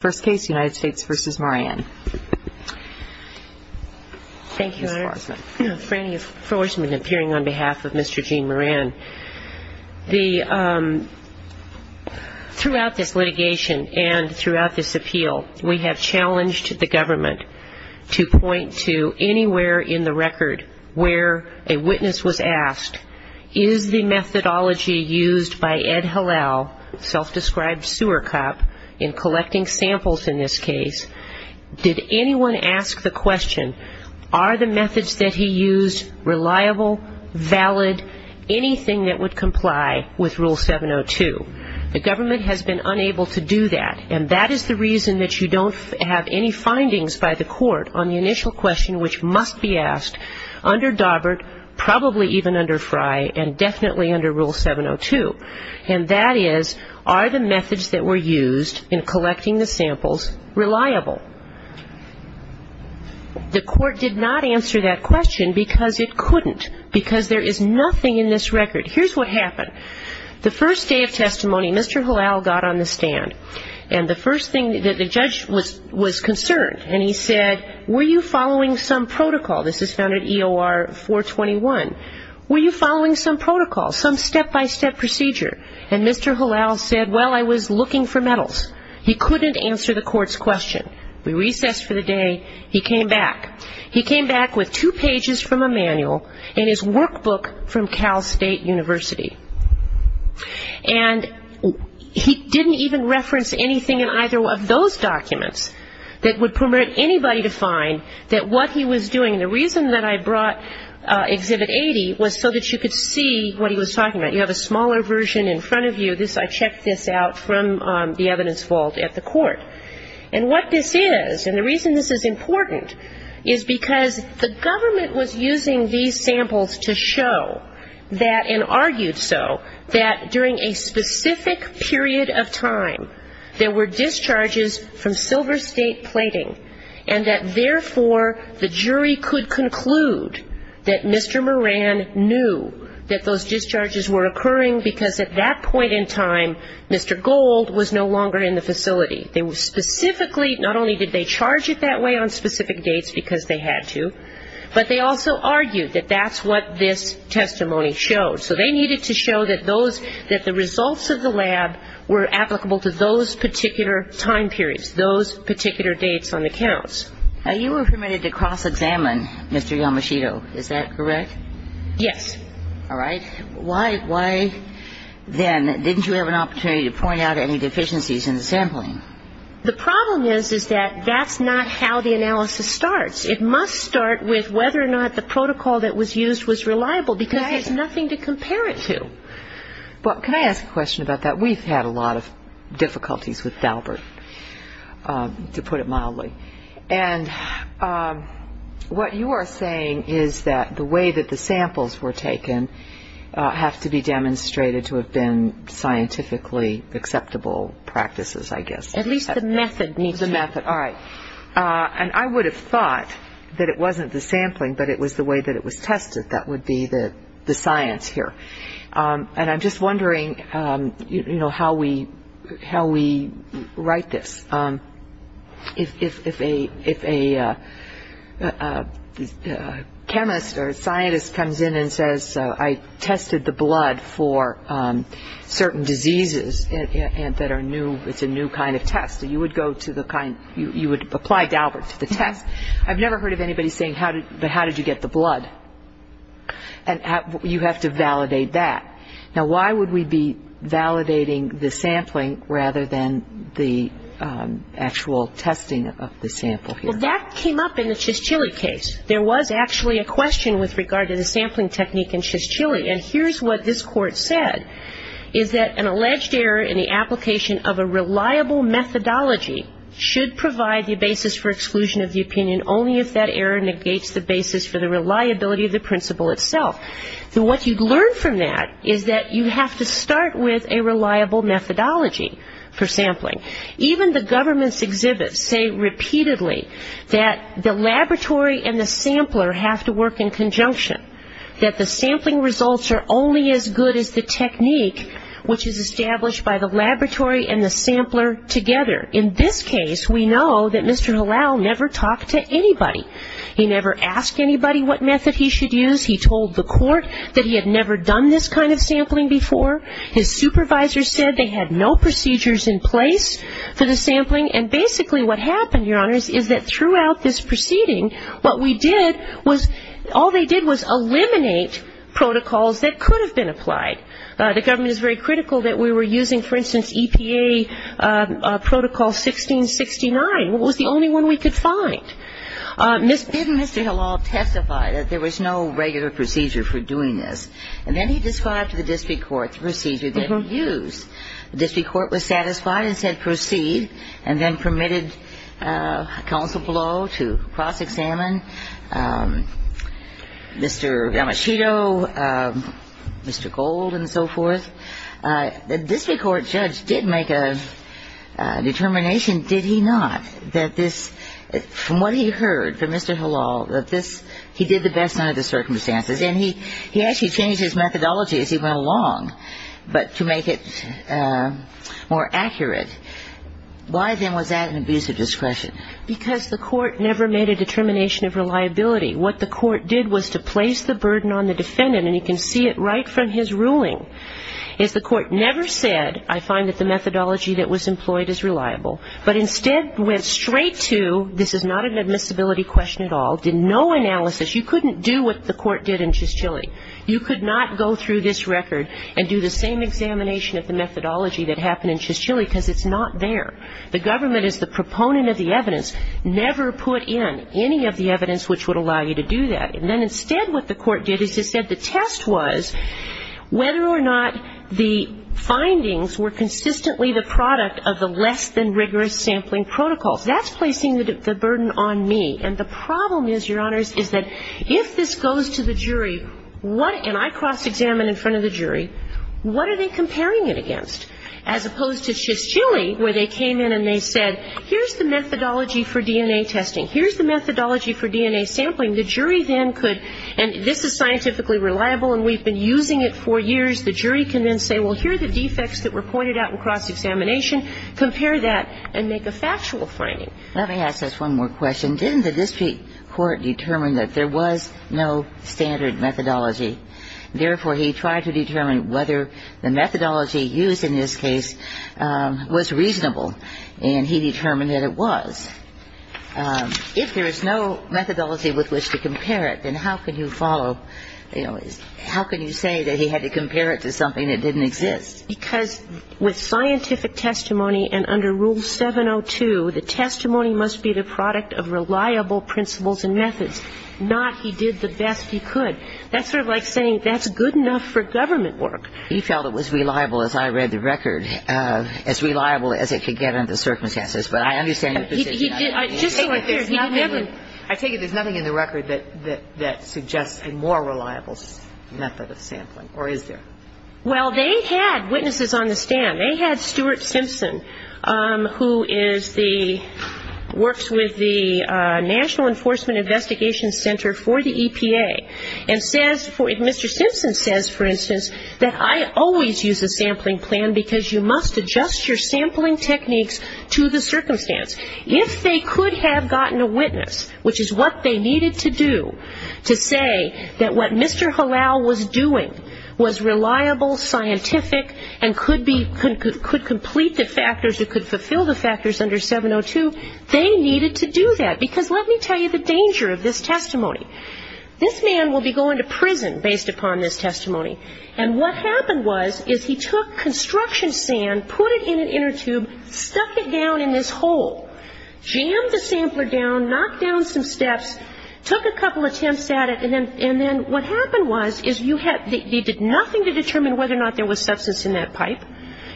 Thank you, Your Honor. Frannie Forsman, appearing on behalf of Mr. Gene Moran. Throughout this litigation and throughout this appeal, we have challenged the government to point to anywhere in the record where a witness was asked, is the methodology used by Ed Halal, self-described sewer cop, in collecting samples in this case, did anyone ask the question, are the methods that he used reliable, valid, anything that would comply with Rule 702? The government has been unable to do that, and that is the reason that you don't have any findings by the court on the methods that were used in collecting the samples reliable. The court did not answer that question because it couldn't, because there is nothing in this record. Here's what happened. The first day of testimony, Mr. Halal got on the stand, and the first thing that the judge was concerned, and he said, were you following some protocol? This is found at EOR 421. Were you following some protocol, some step-by-step procedure? And Mr. Halal said, well, I was looking for metals. He couldn't answer the court's question. We recessed for the day. He came back. He came back with two pages from a manual and his workbook from Cal State University. And he didn't even reference anything in either of those documents that would permit anybody to find that what he was doing, and the reason that I brought Exhibit 80 was so that you could see what he was talking about. You have a smaller version in the evidence vault at the court. And what this is, and the reason this is important, is because the government was using these samples to show that, and argued so, that during a specific period of time, there were discharges from Silver State plating, and that therefore, the jury could conclude that Mr. Moran knew that those discharges were occurring because at that point in time, Mr. Gold was no longer in the facility. They specifically, not only did they charge it that way on specific dates because they had to, but they also argued that that's what this testimony showed. So they needed to show that those, that the results of the lab were applicable to those particular time periods, those particular dates on the counts. Now, you were permitted to cross-examine Mr. Yamashita. Is that correct? Yes. All right. Why, then, didn't you have an opportunity to point out any deficiencies in the sampling? The problem is, is that that's not how the analysis starts. It must start with whether or not the protocol that was used was reliable, because there's nothing to compare it to. Well, can I ask a question about that? We've had a lot of difficulties with DALBERT, to put it mildly. And what you are saying is that the way that the samples were taken have to be demonstrated to have been scientifically acceptable practices, I guess. At least the method needs to be. The method. All right. And I would have thought that it wasn't the sampling, but it was the way that it was tested. That would be the science here. And I'm just wondering, you know, how we write this. If a chemist or a scientist comes in and says, I tested the blood for certain diseases that are new, it's a new kind of test. You would go to the kind, you would apply DALBERT to the test. I've never heard of anybody saying, but how did you get the blood? And you have to validate that. Now, why would we be validating the sampling rather than the actual testing of the sample here? Well, that came up in the Shishchili case. There was actually a question with regard to the sampling technique in Shishchili. And here's what this Court said, is that an alleged error in the application of a reliable methodology should provide the basis for exclusion of the opinion only if that error negates the basis for the reliability of the principle itself. So what you'd learn from that is that you have to start with a reliable methodology for sampling. Even the government's exhibits say repeatedly that the laboratory and the sampler have to work in conjunction, that the sampling results are only as good as the technique which is established by the laboratory and the sampler together. In this case, we know that anybody. He never asked anybody what method he should use. He told the Court that he had never done this kind of sampling before. His supervisors said they had no procedures in place for the sampling. And basically what happened, Your Honors, is that throughout this proceeding, what we did was, all they did was eliminate protocols that could have been applied. The government is very critical that we were using, for instance, EPA protocol 1669, which was the only one we could find. Then Mr. Hillall testified that there was no regular procedure for doing this. And then he described to the district court the procedure that he used. The district court was satisfied and said proceed, and then permitted counsel below to cross-examine Mr. Yamashito, Mr. Gold, and so forth. The district court judge did make a determination, did he not, that this, from what he heard from Mr. Hillall, that this, he did the best under the circumstances. And he actually changed his methodology as he went along, but to make it more accurate. Why, then, was that Because the court never made a determination of reliability. What the court did was to place the burden on the defendant, and you can see it right from his ruling, is the court never said, I find that the methodology that was employed is reliable, but instead went straight to, this is not an admissibility question at all, did no analysis. You couldn't do what the court did in Chischilly. You could not go through this record and do the same examination of the methodology that happened in Chischilly, because it's not there. The government is the proponent of the evidence. Never put in any of the evidence which would allow you to do that. And then instead what the court did is it said the test was whether or not the findings were consistently the product of the less than rigorous sampling protocols. That's placing the burden on me. And the problem is, Your Honors, is that if this goes to the jury, what I cross-examine in front of the jury, what are they comparing it against? As opposed to Chischilly, where they came in and they said, here's the methodology for DNA testing, here's the methodology for DNA sampling, the jury then could, and this is scientifically reliable and we've been using it for years, the jury can then say, well, here are the defects that were pointed out in cross-examination, compare that and make a factual finding. Let me ask just one more question. Didn't the district court determine that there was no standard methodology? Therefore, he tried to determine whether the methodology used in this case was reasonable, and he determined that it was. If there is no methodology with which to compare it, then how can you follow you know, how can you say that he had to compare it to something that didn't exist? Because with scientific testimony and under Rule 702, the testimony must be the product of reliable principles and methods, not he did the best he could. That's sort of like saying that's good enough for government work. He felt it was reliable, as I read the record, as reliable as it could get under the circumstances, but I understand your position. He did. I take it there's nothing in the record that suggests a more reliable method of sampling, or is there? Well, they had witnesses on the stand. They had Stuart Simpson, who is the, works with the National Enforcement Investigation Center for the EPA, and says, Mr. Simpson says, for instance, that I always use a sampling plan because you must adjust your sampling techniques to the circumstance. If they could have gotten a witness, which is what they needed to do to say that what Mr. Hallow was doing was reliable, scientific, and could be, could complete the factors, it could fulfill the factors under 702, they needed to do that. Because let me tell you the danger of this testimony. This man will be going to prison based upon this testimony, and what happened was, is he took construction sand, put it in an inner tube, stuck it down in this hole, jammed the sampler down, knocked down some steps, took a couple attempts at it, and then what happened was, is you had, they did nothing to determine whether or not there was substance in that pipe,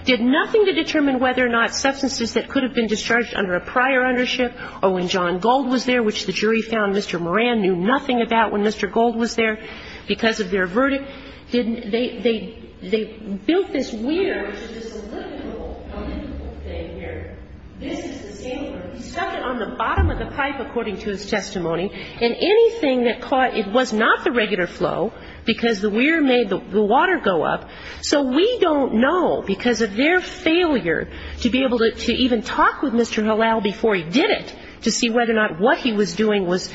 did nothing to determine whether or not substances that could have been discharged under a prior ownership, or when John Gold was there, which the jury found Mr. Moran knew nothing about when Mr. Gold was there, because of their verdict. They built this weir, which is this elliptical, elliptical thing here. This is the sampler. He stuck it on the bottom of the pipe, according to his testimony, and anything that caught, it was not the regular flow, because the weir made the water go up. So we don't know, because of their failure to be able to even talk with Mr. Hallow before he did it, to see whether or not what he was doing was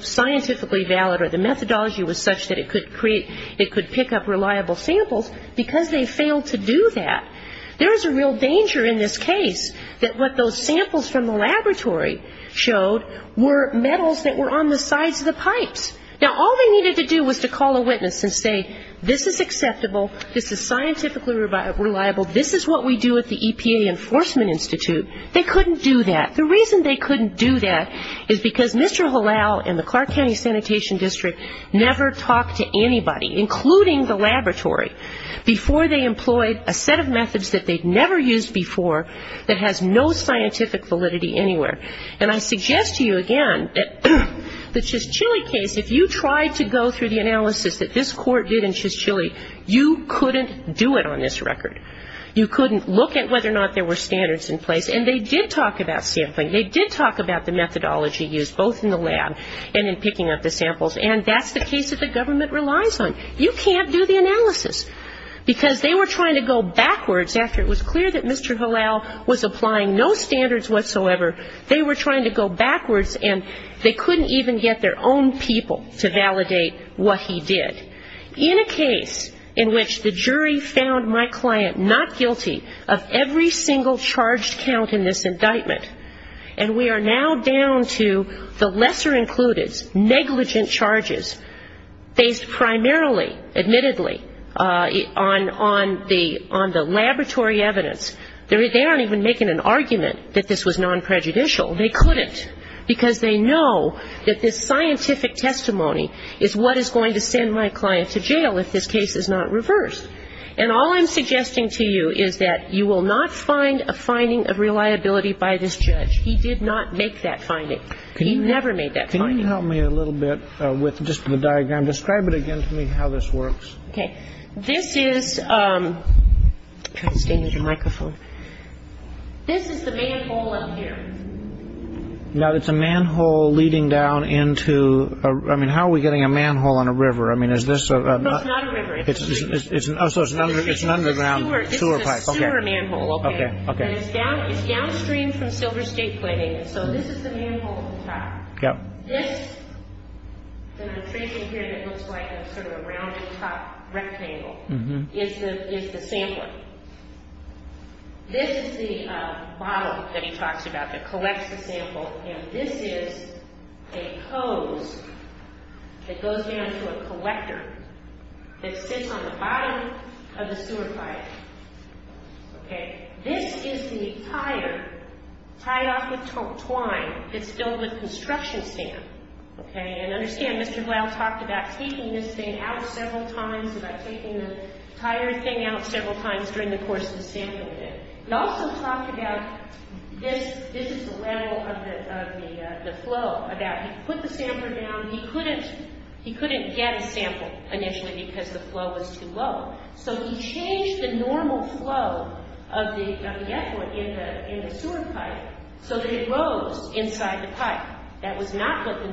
scientifically valid, or the methodology was such that it could create, it could pick up reliable samples, because they failed to do that. There is a real danger in this case, that what those samples from the laboratory showed were metals that were on the sides of the pipes. Now, all they needed to do was to call a witness and say, this is acceptable, this is scientifically reliable, this is what we do at the EPA Enforcement Institute. They couldn't do that. The reason they couldn't do that is because Mr. Hallow and the Clark County Sanitation District never talked to anybody, including the laboratory, before they employed a set of methods that they'd never used before, that has no scientific validity anywhere. And I suggest to you, again, that the Chishchilly case, if you tried to go through the analysis that this court did in Chishchilly, you couldn't do it on this record. You couldn't look at whether or not there were standards in place. And they did talk about sampling. They did talk about the methodology used, both in the lab and in picking up the samples. And that's the case that the government relies on. You can't do the analysis. Because they were trying to go backwards, after it was clear that Mr. Hallow was applying no standards whatsoever, they were trying to go backwards, and they couldn't even get their own people to validate what he did. In a case in which the jury found my client not guilty of every single charged count in this indictment, and we are now down to the lesser-included, negligent charges, based primarily, admittedly, on the laboratory evidence, they aren't even making an argument that this was non-prejudicial. They couldn't, because they know that this scientific testimony is what is going to send my client to jail if this case is not reversed. And all I'm suggesting to you is that you will not find a finding of reliability by this judge. He did not make that finding. He never made that finding. Can you help me a little bit with just the diagram? Describe it again to me, how this works. Okay. This is the manhole up here. Now, it's a manhole leading down into, I mean, how are we getting a manhole in a river? I mean, is this a... No, it's not a river. Oh, so it's an underground sewer pipe. It's a sewer manhole. Okay, okay. And it's downstream from Silver State Planning, and so this is the manhole at the top. Yep. This, that I'm tracing here that looks like sort of a rounded top rectangle, is the sampler. This is the bottle that he talks about that collects the sample, and this is a hose that goes down to a collector that sits on the bottom of the sewer pipe. Okay. This is the tire tied off with twine that's filled with construction sand. Okay. And understand, Mr. Glau talked about taking this thing out several times, about taking the tire thing out several times during the course of the sampling. He also talked about this is the level of the flow, about he put the sampler down. He couldn't get a sample initially because the flow was too low, so he changed the normal flow of the effluent in the sewer pipe so that it rose inside the pipe. That was not what the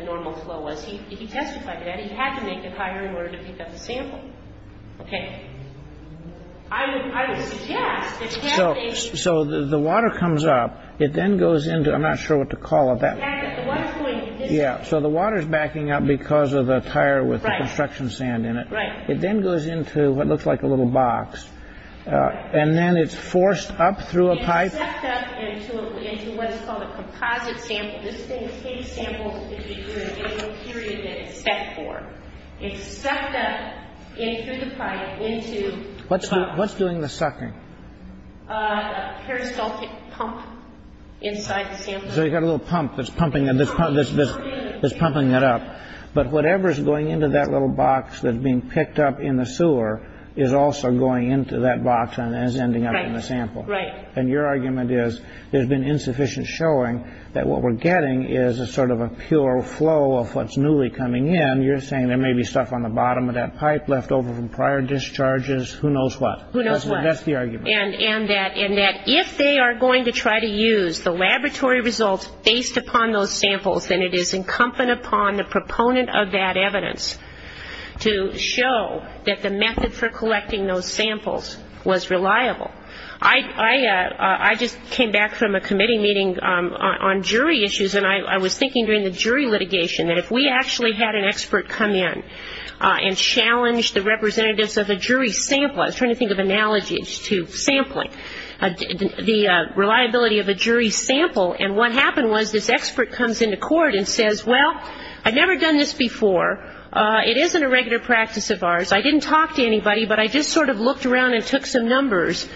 normal flow was. He testified to that. He had to make it higher in order to pick up the sample. Okay. I would suggest, if you have a- So the water comes up. It then goes into, I'm not sure what to call it, that- Back up. The water's going- Yeah, so the water's backing up because of the tire with the construction sand in it. Right. It then goes into what looks like a little box, and then it's forced up through a pipe- This thing takes samples for a given period that it's set for. It's sucked up through the pipe into- What's doing the sucking? A peristaltic pump inside the sample. So you've got a little pump that's pumping it up. But whatever's going into that little box that's being picked up in the sewer is also going into that box and is ending up in the sample. Right. And your argument is there's been insufficient showing that what we're getting is a sort of a pure flow of what's newly coming in. You're saying there may be stuff on the bottom of that pipe left over from prior discharges, who knows what. Who knows what. That's the argument. And that if they are going to try to use the laboratory results based upon those samples, then it is incumbent upon the proponent of that evidence to show that the method for collecting those samples was reliable. I just came back from a committee meeting on jury issues, and I was thinking during the jury litigation that if we actually had an expert come in and challenge the representatives of a jury sample, I was trying to think of analogies to sampling, the reliability of a jury sample, and what happened was this expert comes into court and says, well, I've never done this before. It isn't a regular practice of ours. I didn't talk to anybody, but I just sort of looked around and took some numbers,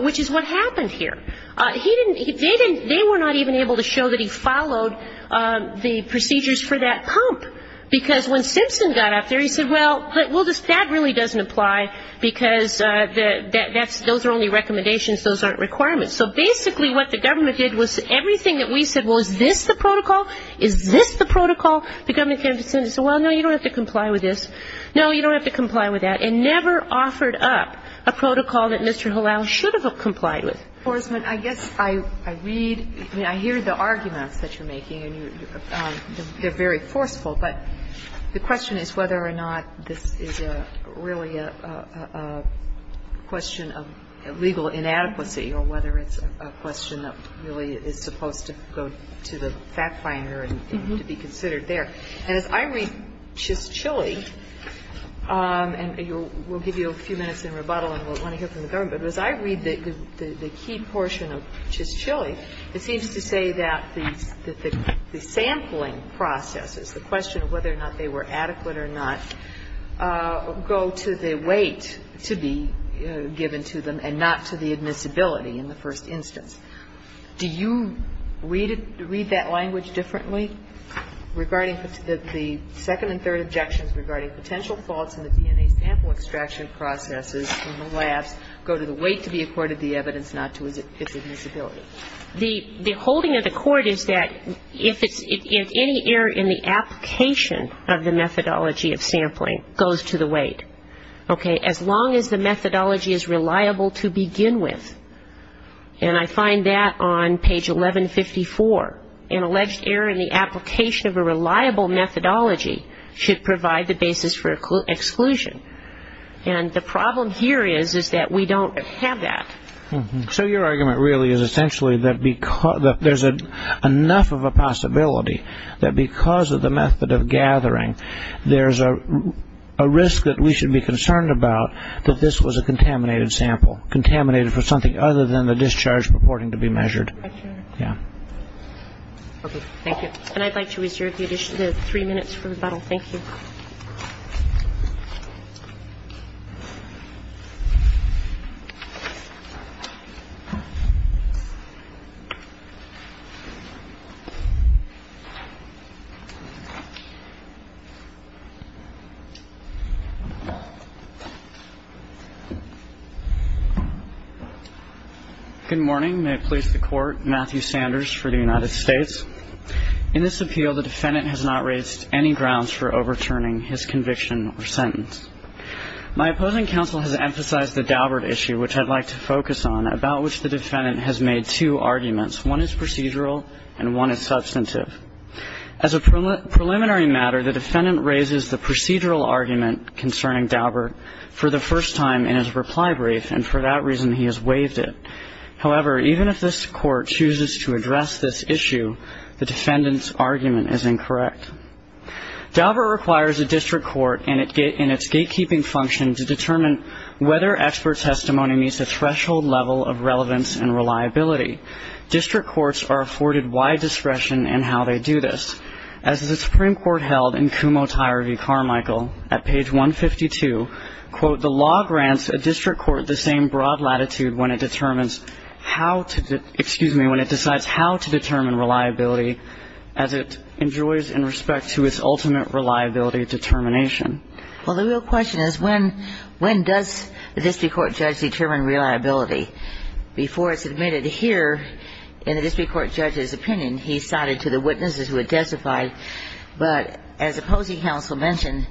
which is what happened here. They were not even able to show that he followed the procedures for that pump, because when Simpson got up there, he said, well, that really doesn't apply, because those are only recommendations. Those aren't requirements. So basically what the government did was everything that we said, well, is this the protocol? Is this the protocol? The government came to the Senate and said, well, no, you don't have to comply with this. No, you don't have to comply with that, and never offered up a protocol that Mr. Hillel should have complied with. I guess I read, I mean, I hear the arguments that you're making, and they're very forceful, but the question is whether or not this is really a question of legal inadequacy or whether it's a question that really is supposed to go to the fact-finder and to be considered there. And as I read Chisholm, and we'll give you a few minutes in rebuttal and we'll want to hear from the government, but as I read the key portion of Chisholm, it seems to say that the sampling processes, the question of whether or not they were adequate or not, go to the weight to be given to them and not to the admissibility in the first instance. Do you read that language differently regarding the second and third objections regarding potential faults in the DNA sample extraction processes from the labs go to the weight to be accorded the evidence, not to its admissibility? The holding of the court is that if any error in the application of the methodology of sampling goes to the weight, as long as the methodology is reliable to begin with, and I find that on page 1154, an alleged error in the application of a reliable methodology should provide the basis for exclusion. And the problem here is that we don't have that. So your argument really is essentially that there's enough of a possibility that because of the method of gathering, there's a risk that we should be concerned about that this was a contaminated sample, contaminated for something other than the discharge purporting to be measured. Okay. Thank you. And I'd like to reserve the three minutes for rebuttal. Thank you. Good morning. May it please the Court. Matthew Sanders for the United States. In this appeal, the defendant has not raised any grounds for overturning his conviction or sentence. My opposing counsel has emphasized the Daubert issue, which I'd like to focus on, about which the defendant has made two arguments. One is procedural and one is substantive. As a preliminary matter, the defendant raises the procedural argument concerning Daubert for the first time in his reply brief, and for that reason he has waived it. However, even if this Court chooses to address this issue, the defendant's argument is incorrect. Daubert requires a district court in its gatekeeping function to determine whether expert testimony meets a threshold level of relevance and reliability. District courts are afforded wide discretion in how they do this. As the Supreme Court held in Kumho-Tyre v. Carmichael at page 152, the law grants a district court the same broad latitude when it determines how to, excuse me, when it decides how to determine reliability as it enjoys in respect to its ultimate reliability determination. Well, the real question is when does the district court judge determine reliability? Before it's admitted here, in the district court judge's opinion, he cited to the witnesses who had testified, but as opposing counsel mentioned,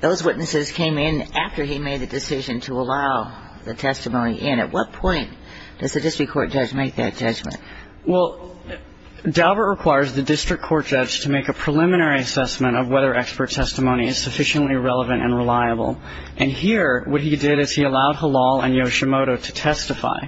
those witnesses came in after he made the decision to allow the testimony in. At what point does the district court judge make that judgment? Well, Daubert requires the district court judge to make a preliminary assessment of whether expert testimony is sufficiently relevant and reliable. And here what he did is he allowed Halal and Yoshimoto to testify,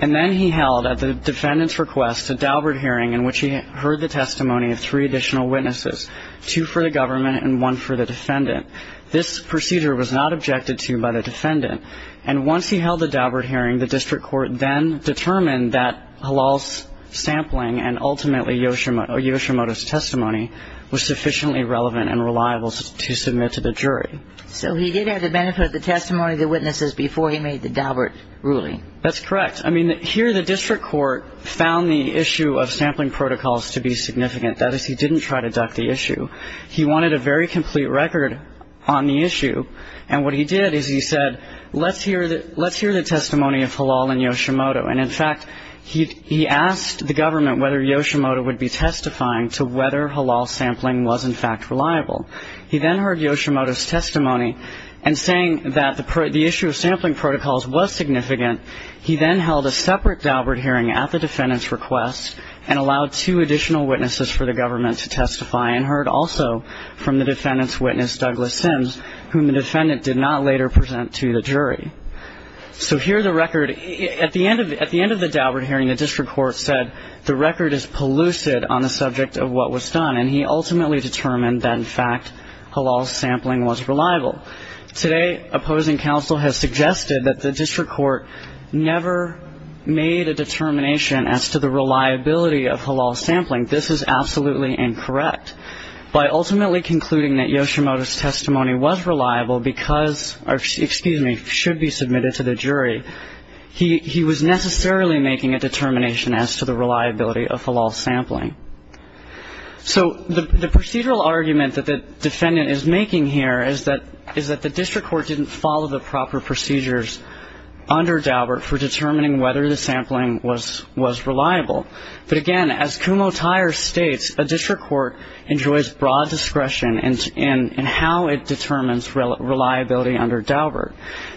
and then he held at the defendant's request a Daubert hearing in which he heard the testimony of three additional witnesses, two for the government and one for the defendant. This procedure was not objected to by the defendant. And once he held the Daubert hearing, the district court then determined that Halal's sampling and ultimately Yoshimoto's testimony was sufficiently relevant and reliable to submit to the jury. So he did have the benefit of the testimony of the witnesses before he made the Daubert ruling. That's correct. I mean, here the district court found the issue of sampling protocols to be significant. That is, he didn't try to duck the issue. He wanted a very complete record on the issue. And what he did is he said, let's hear the testimony of Halal and Yoshimoto. And, in fact, he asked the government whether Yoshimoto would be testifying to whether Halal's sampling was, in fact, reliable. He then heard Yoshimoto's testimony, and saying that the issue of sampling protocols was significant, he then held a separate Daubert hearing at the defendant's request and allowed two additional witnesses for the government to testify and heard also from the defendant's witness, Douglas Sims, whom the defendant did not later present to the jury. So here the record at the end of the Daubert hearing, the district court said the record is pellucid on the subject of what was done, and he ultimately determined that, in fact, Halal's sampling was reliable. Today opposing counsel has suggested that the district court never made a determination as to the reliability of Halal's sampling. This is absolutely incorrect. By ultimately concluding that Yoshimoto's testimony was reliable because, or excuse me, should be submitted to the jury, he was necessarily making a determination as to the reliability of Halal's sampling. So the procedural argument that the defendant is making here is that the district court didn't follow the proper procedures under Daubert for determining whether the sampling was reliable. But, again, as Kumho Tyer states, a district court enjoys broad discretion in how it determines reliability under Daubert.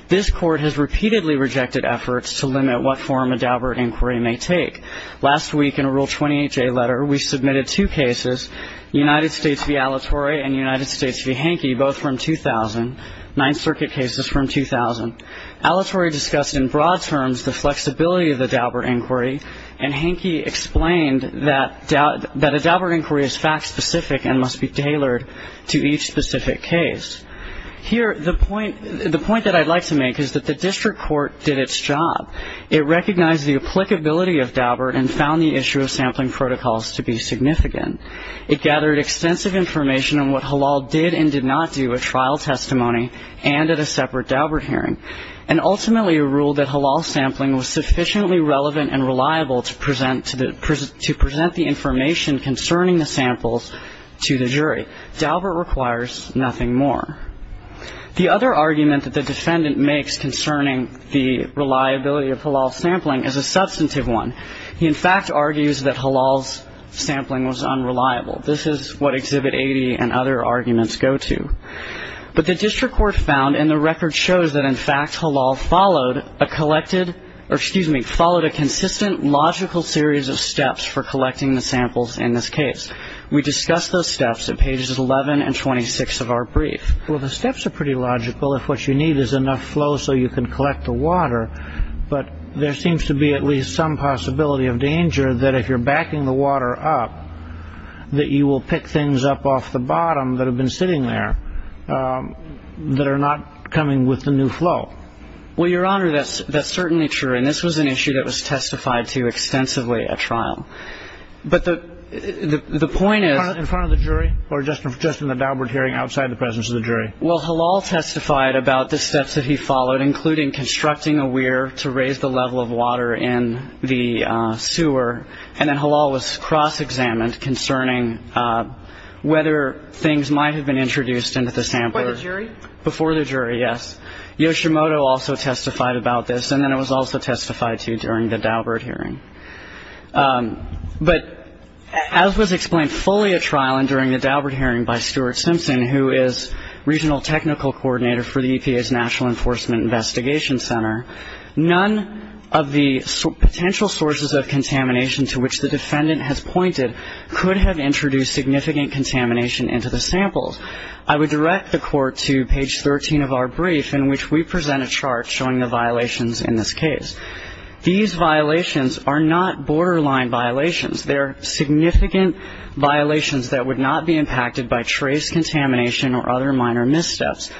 This court has repeatedly rejected efforts to limit what form a Daubert inquiry may take. Last week in a Rule 28J letter, we submitted two cases, United States v. Alatorre and United States v. Hanke, both from 2000, Ninth Circuit cases from 2000. Alatorre discussed in broad terms the flexibility of the Daubert inquiry, and Hanke explained that a Daubert inquiry is fact-specific and must be tailored to each specific case. Here the point that I'd like to make is that the district court did its job. It recognized the applicability of Daubert and found the issue of sampling protocols to be significant. It gathered extensive information on what Halal did and did not do at trial testimony and at a separate Daubert hearing, and ultimately ruled that Halal sampling was sufficiently relevant and reliable to present the information concerning the samples to the jury. Daubert requires nothing more. The other argument that the defendant makes concerning the reliability of Halal sampling is a substantive one. He, in fact, argues that Halal's sampling was unreliable. This is what Exhibit 80 and other arguments go to. But the district court found, and the record shows that, in fact, Halal followed a consistent logical series of steps for collecting the samples in this case. We discuss those steps at pages 11 and 26 of our brief. Well, the steps are pretty logical if what you need is enough flow so you can collect the water, but there seems to be at least some possibility of danger that if you're backing the water up that you will pick things up off the bottom that have been sitting there that are not coming with the new flow. Well, Your Honor, that's certainly true, and this was an issue that was testified to extensively at trial. But the point is – In front of the jury or just in the Daubert hearing outside the presence of the jury? Well, Halal testified about the steps that he followed, including constructing a weir to raise the level of water in the sewer, and then Halal was cross-examined concerning whether things might have been introduced into the sampler. Before the jury? Before the jury, yes. Yoshimoto also testified about this, and then it was also testified to during the Daubert hearing. But as was explained fully at trial and during the Daubert hearing by Stuart Simpson, who is regional technical coordinator for the EPA's National Enforcement Investigation Center, none of the potential sources of contamination to which the defendant has pointed could have introduced significant contamination into the samples. I would direct the Court to page 13 of our brief, in which we present a chart showing the violations in this case. These violations are not borderline violations. They are significant violations that would not be impacted by trace contamination or other minor missteps.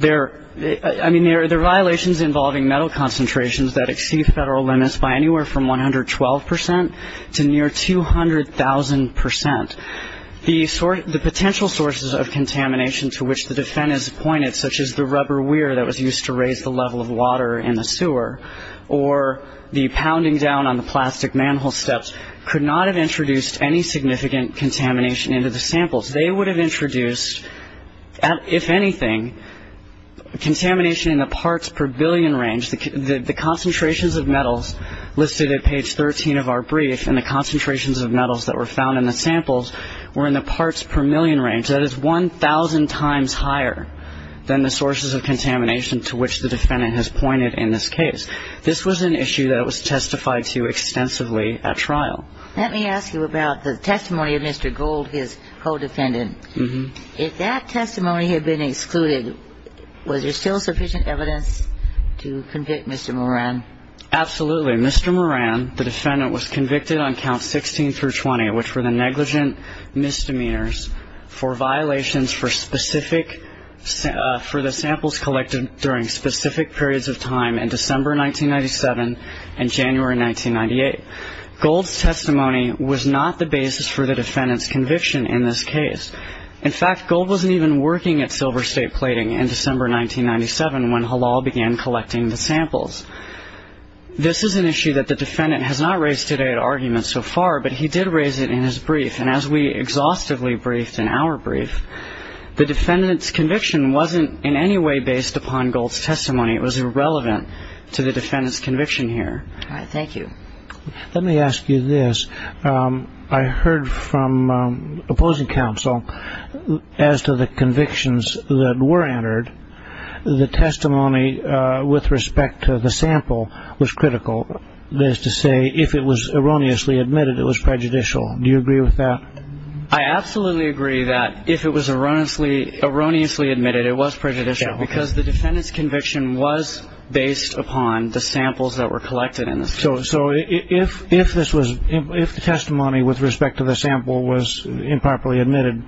I mean, there are violations involving metal concentrations that exceed federal limits by anywhere from 112 percent to near 200,000 percent. The potential sources of contamination to which the defendant has pointed, such as the rubber weir that was used to raise the level of water in the sewer, or the pounding down on the plastic manhole steps, could not have introduced any significant contamination into the samples. They would have introduced, if anything, contamination in the parts per billion range. The concentrations of metals listed at page 13 of our brief and the concentrations of metals that were found in the samples were in the parts per million range. That is 1,000 times higher than the sources of contamination to which the defendant has pointed in this case. This was an issue that was testified to extensively at trial. Let me ask you about the testimony of Mr. Gold, his co-defendant. If that testimony had been excluded, was there still sufficient evidence to convict Mr. Moran? Absolutely. Mr. Moran, the defendant, was convicted on Counts 16 through 20, which were the negligent misdemeanors for violations for specific, for the samples collected during specific periods of time in December 1997 and January 1998. Gold's testimony was not the basis for the defendant's conviction in this case. In fact, Gold wasn't even working at Silver State Plating in December 1997 when Halal began collecting the samples. This is an issue that the defendant has not raised today at argument so far, but he did raise it in his brief. And as we exhaustively briefed in our brief, the defendant's conviction wasn't in any way based upon Gold's testimony. It was irrelevant to the defendant's conviction here. All right. Thank you. Let me ask you this. I heard from opposing counsel as to the convictions that were entered, the testimony with respect to the sample was critical. That is to say, if it was erroneously admitted, it was prejudicial. Do you agree with that? I absolutely agree that if it was erroneously admitted, it was prejudicial because the defendant's conviction was based upon the samples that were collected. So if the testimony with respect to the sample was improperly admitted,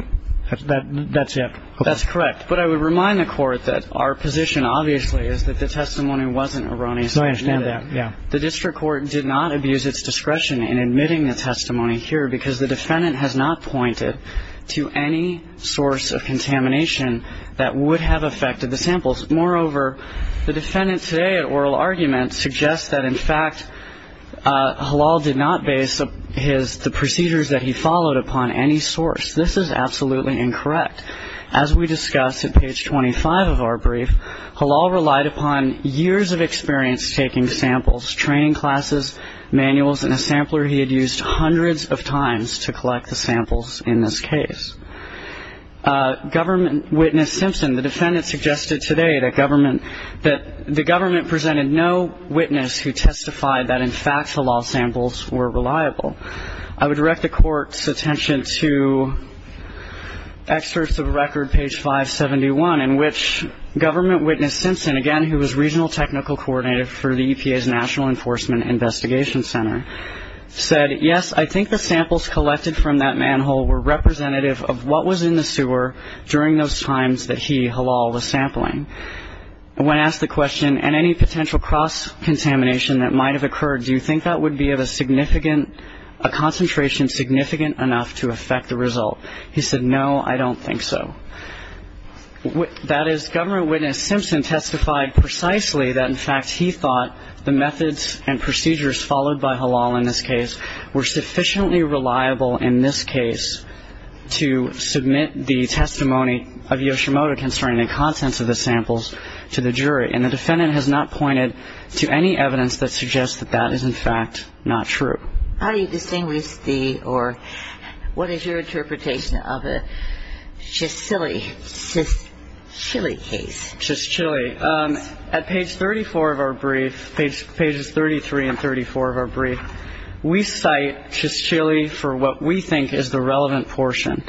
that's it? That's correct. But I would remind the court that our position obviously is that the testimony wasn't erroneously admitted. I understand that. The district court did not abuse its discretion in admitting the testimony here because the defendant has not pointed to any source of contamination that would have affected the samples. Moreover, the defendant today at oral argument suggests that, in fact, Halal did not base the procedures that he followed upon any source. This is absolutely incorrect. As we discussed at page 25 of our brief, Halal relied upon years of experience taking samples, training classes, manuals, and a sampler he had used hundreds of times to collect the samples in this case. Government witness Simpson, the defendant suggested today that the government presented no witness who testified that, in fact, the Halal samples were reliable. I would direct the court's attention to excerpts of a record, page 571, in which government witness Simpson, again, who was regional technical coordinator for the EPA's National Enforcement Investigation Center, said, yes, I think the samples collected from that manhole were representative of what was in the sewer during those times that he, Halal, was sampling. When asked the question, and any potential cross-contamination that might have occurred, do you think that would be of a significant, a concentration significant enough to affect the result? He said, no, I don't think so. That is, government witness Simpson testified precisely that, in fact, he thought the methods and procedures followed by Halal in this case were sufficiently reliable in this case to submit the testimony of Yoshimoto concerning the contents of the samples to the jury. And the defendant has not pointed to any evidence that suggests that that is, in fact, not true. How do you distinguish the, or what is your interpretation of a Shishchili case? Shishchili. At page 34 of our brief, pages 33 and 34 of our brief, we cite Shishchili for what we think is the relevant portion,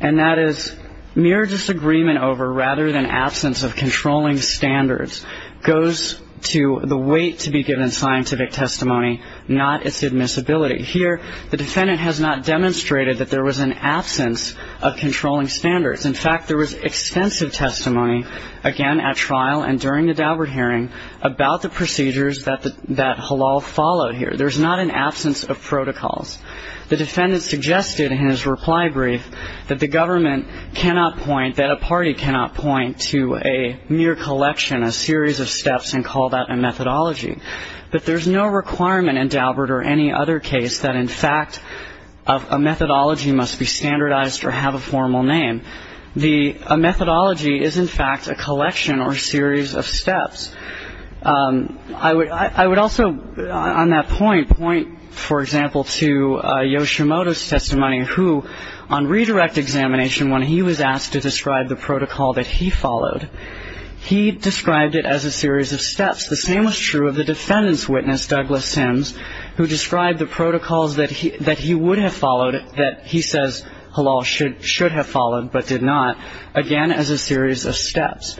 and that is mere disagreement over rather than absence of controlling standards goes to the weight to be given scientific testimony, not its admissibility. Here, the defendant has not demonstrated that there was an absence of controlling standards. In fact, there was extensive testimony, again at trial and during the Daubert hearing, about the procedures that Halal followed here. There's not an absence of protocols. The defendant suggested in his reply brief that the government cannot point, that a party cannot point to a mere collection, a series of steps, and call that a methodology. But there's no requirement in Daubert or any other case that, in fact, a methodology must be standardized or have a formal name. A methodology is, in fact, a collection or a series of steps. I would also, on that point, point, for example, to Yoshimoto's testimony, who, on redirect examination, when he was asked to describe the protocol that he followed, he described it as a series of steps. The same was true of the defendant's witness, Douglas Sims, who described the protocols that he would have followed, that he says Halal should have followed but did not, again as a series of steps.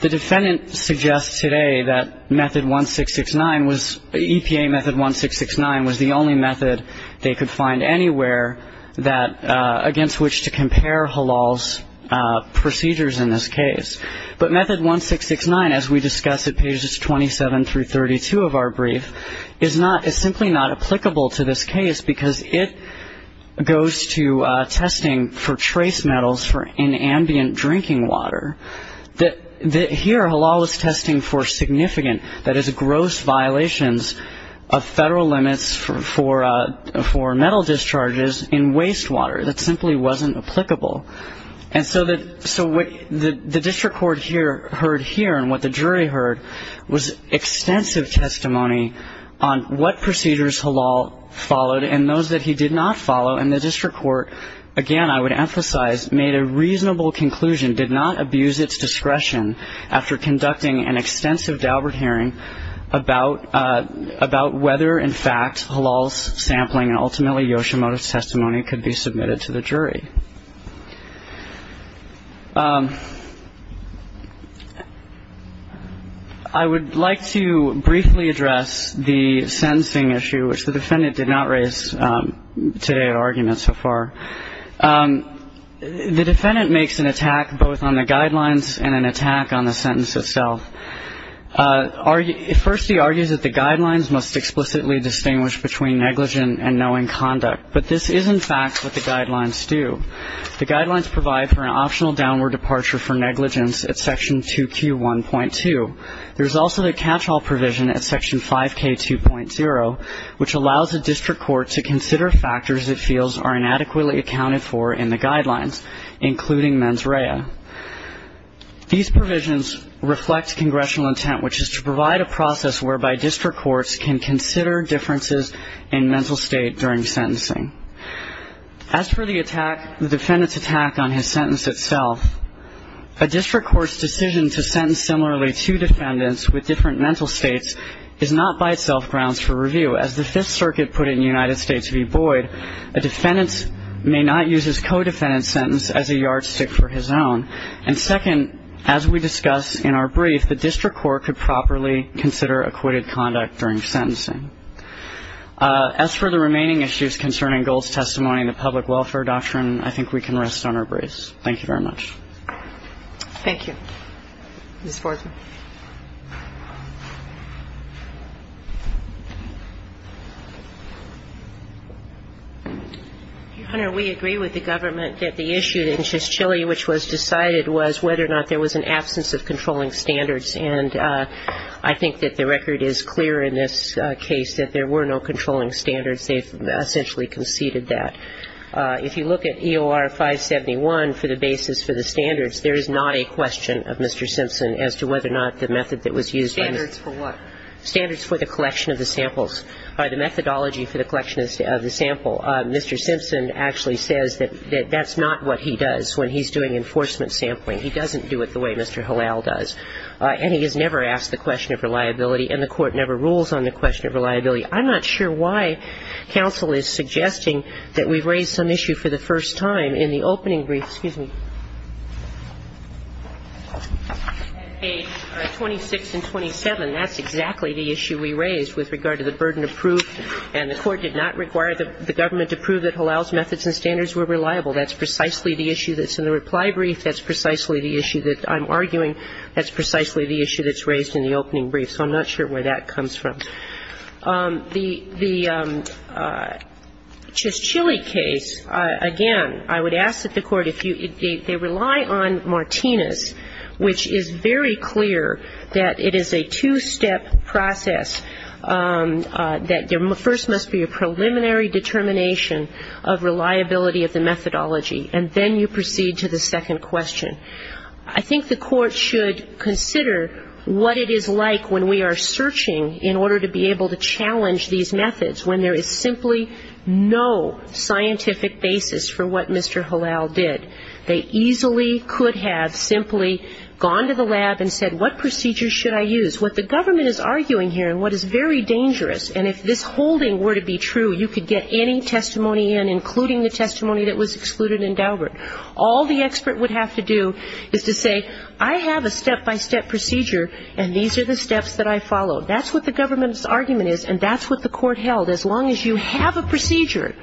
The defendant suggests today that method 1669 was, EPA method 1669, was the only method they could find anywhere against which to compare Halal's procedures in this case. But method 1669, as we discussed at pages 27 through 32 of our brief, is simply not applicable to this case because it goes to testing for trace metals in ambient drinking water. Here, Halal was testing for significant, that is, gross violations of federal limits for metal discharges in wastewater. That simply wasn't applicable. And so what the district court heard here and what the jury heard was extensive testimony on what procedures Halal followed and those that he did not follow. And the district court, again, I would emphasize, made a reasonable conclusion, did not abuse its discretion after conducting an extensive Daubert hearing about whether, in fact, Halal's sampling and ultimately Yoshimoto's testimony could be submitted to the jury. I would like to briefly address the sentencing issue, which the defendant did not raise today at argument so far. The defendant makes an attack both on the guidelines and an attack on the sentence itself. First, he argues that the guidelines must explicitly distinguish between negligent and knowing conduct. But this is, in fact, what the guidelines do. The guidelines provide for an optional downward departure for negligence at Section 2Q1.2. There's also the catch-all provision at Section 5K2.0, which allows the district court to consider factors it feels are inadequately accounted for in the guidelines, including mens rea. These provisions reflect congressional intent, which is to provide a process whereby district courts can consider differences in mental state during sentencing. As for the attack, the defendant's attack on his sentence itself, a district court's decision to sentence similarly two defendants with different mental states is not by itself grounds for review. As the Fifth Circuit put it in the United States v. Boyd, a defendant may not use his co-defendant's sentence as a yardstick for his own. And second, as we discussed in our brief, the district court could properly consider acquitted conduct during sentencing. As for the remaining issues concerning Gold's testimony in the public welfare doctrine, I think we can rest on our brace. Thank you very much. Thank you. Ms. Forsman. Your Honor, we agree with the government that the issue in Chisholm, which was decided, was whether or not there was an absence of controlling standards. And I think that the record is clear in this case that there were no controlling standards. They essentially conceded that. If you look at EOR 571 for the basis for the standards, there is not a question of Mr. Simpson as to whether or not the method that was used by Mr. Simpson. Standards for what? Standards for the collection of the samples, or the methodology for the collection of the sample. Mr. Simpson actually says that that's not what he does when he's doing enforcement sampling. He doesn't do it the way Mr. Halal does. And he has never asked the question of reliability, and the Court never rules on the question of reliability. I'm not sure why counsel is suggesting that we raise some issue for the first time in the opening brief. Excuse me. Page 26 and 27, that's exactly the issue we raised with regard to the burden of proof, and the Court did not require the government to prove that Halal's methods and standards were reliable. That's precisely the issue that's in the reply brief. That's precisely the issue that I'm arguing. That's precisely the issue that's raised in the opening brief. So I'm not sure where that comes from. The Chischilly case, again, I would ask that the Court, if you – they rely on Martinez, which is very clear that it is a two-step process, that there first must be a preliminary determination of reliability of the methodology, and then you proceed to the second question. I think the Court should consider what it is like when we are searching in order to be able to challenge these methods, when there is simply no scientific basis for what Mr. Halal did. They easily could have simply gone to the lab and said, what procedure should I use? What the government is arguing here and what is very dangerous, and if this holding were to be true, you could get any testimony in, including the testimony that was excluded in Daubert. All the expert would have to do is to say, I have a step-by-step procedure, and these are the steps that I followed. That's what the government's argument is, and that's what the Court held. As long as you have a procedure,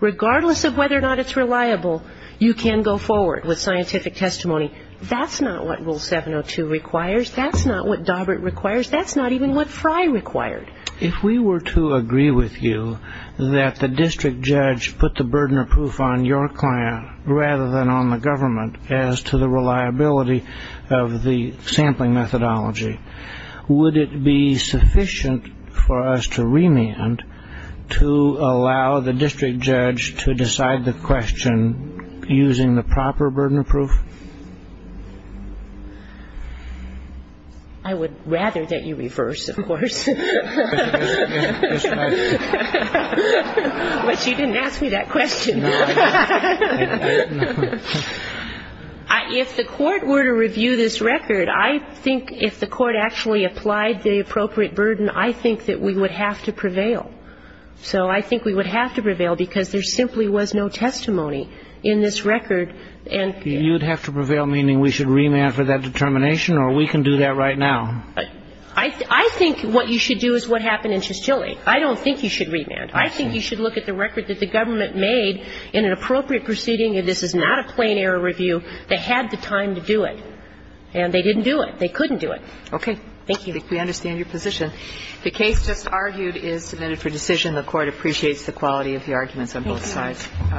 regardless of whether or not it's reliable, you can go forward with scientific testimony. That's not what Rule 702 requires. That's not what Daubert requires. That's not even what Frey required. If we were to agree with you that the district judge put the burden of proof on your client rather than on the government as to the reliability of the sampling methodology, would it be sufficient for us to remand to allow the district judge to decide the question using the proper burden of proof? I would rather that you reverse, of course. But you didn't ask me that question. If the Court were to review this record, I think if the Court actually applied the appropriate burden, I think that we would have to prevail. So I think we would have to prevail because there simply was no testimony in this record. You would have to prevail, meaning we should remand for that determination, or we can do that right now? I think what you should do is what happened in Chisholm. I don't think you should remand. I think you should look at the record that the government made in an appropriate proceeding, and this is not a plain error review. They had the time to do it, and they didn't do it. They couldn't do it. Okay. Thank you. I think we understand your position. The case just argued is submitted for decision. The Court appreciates the quality of the arguments on both sides. Thank you.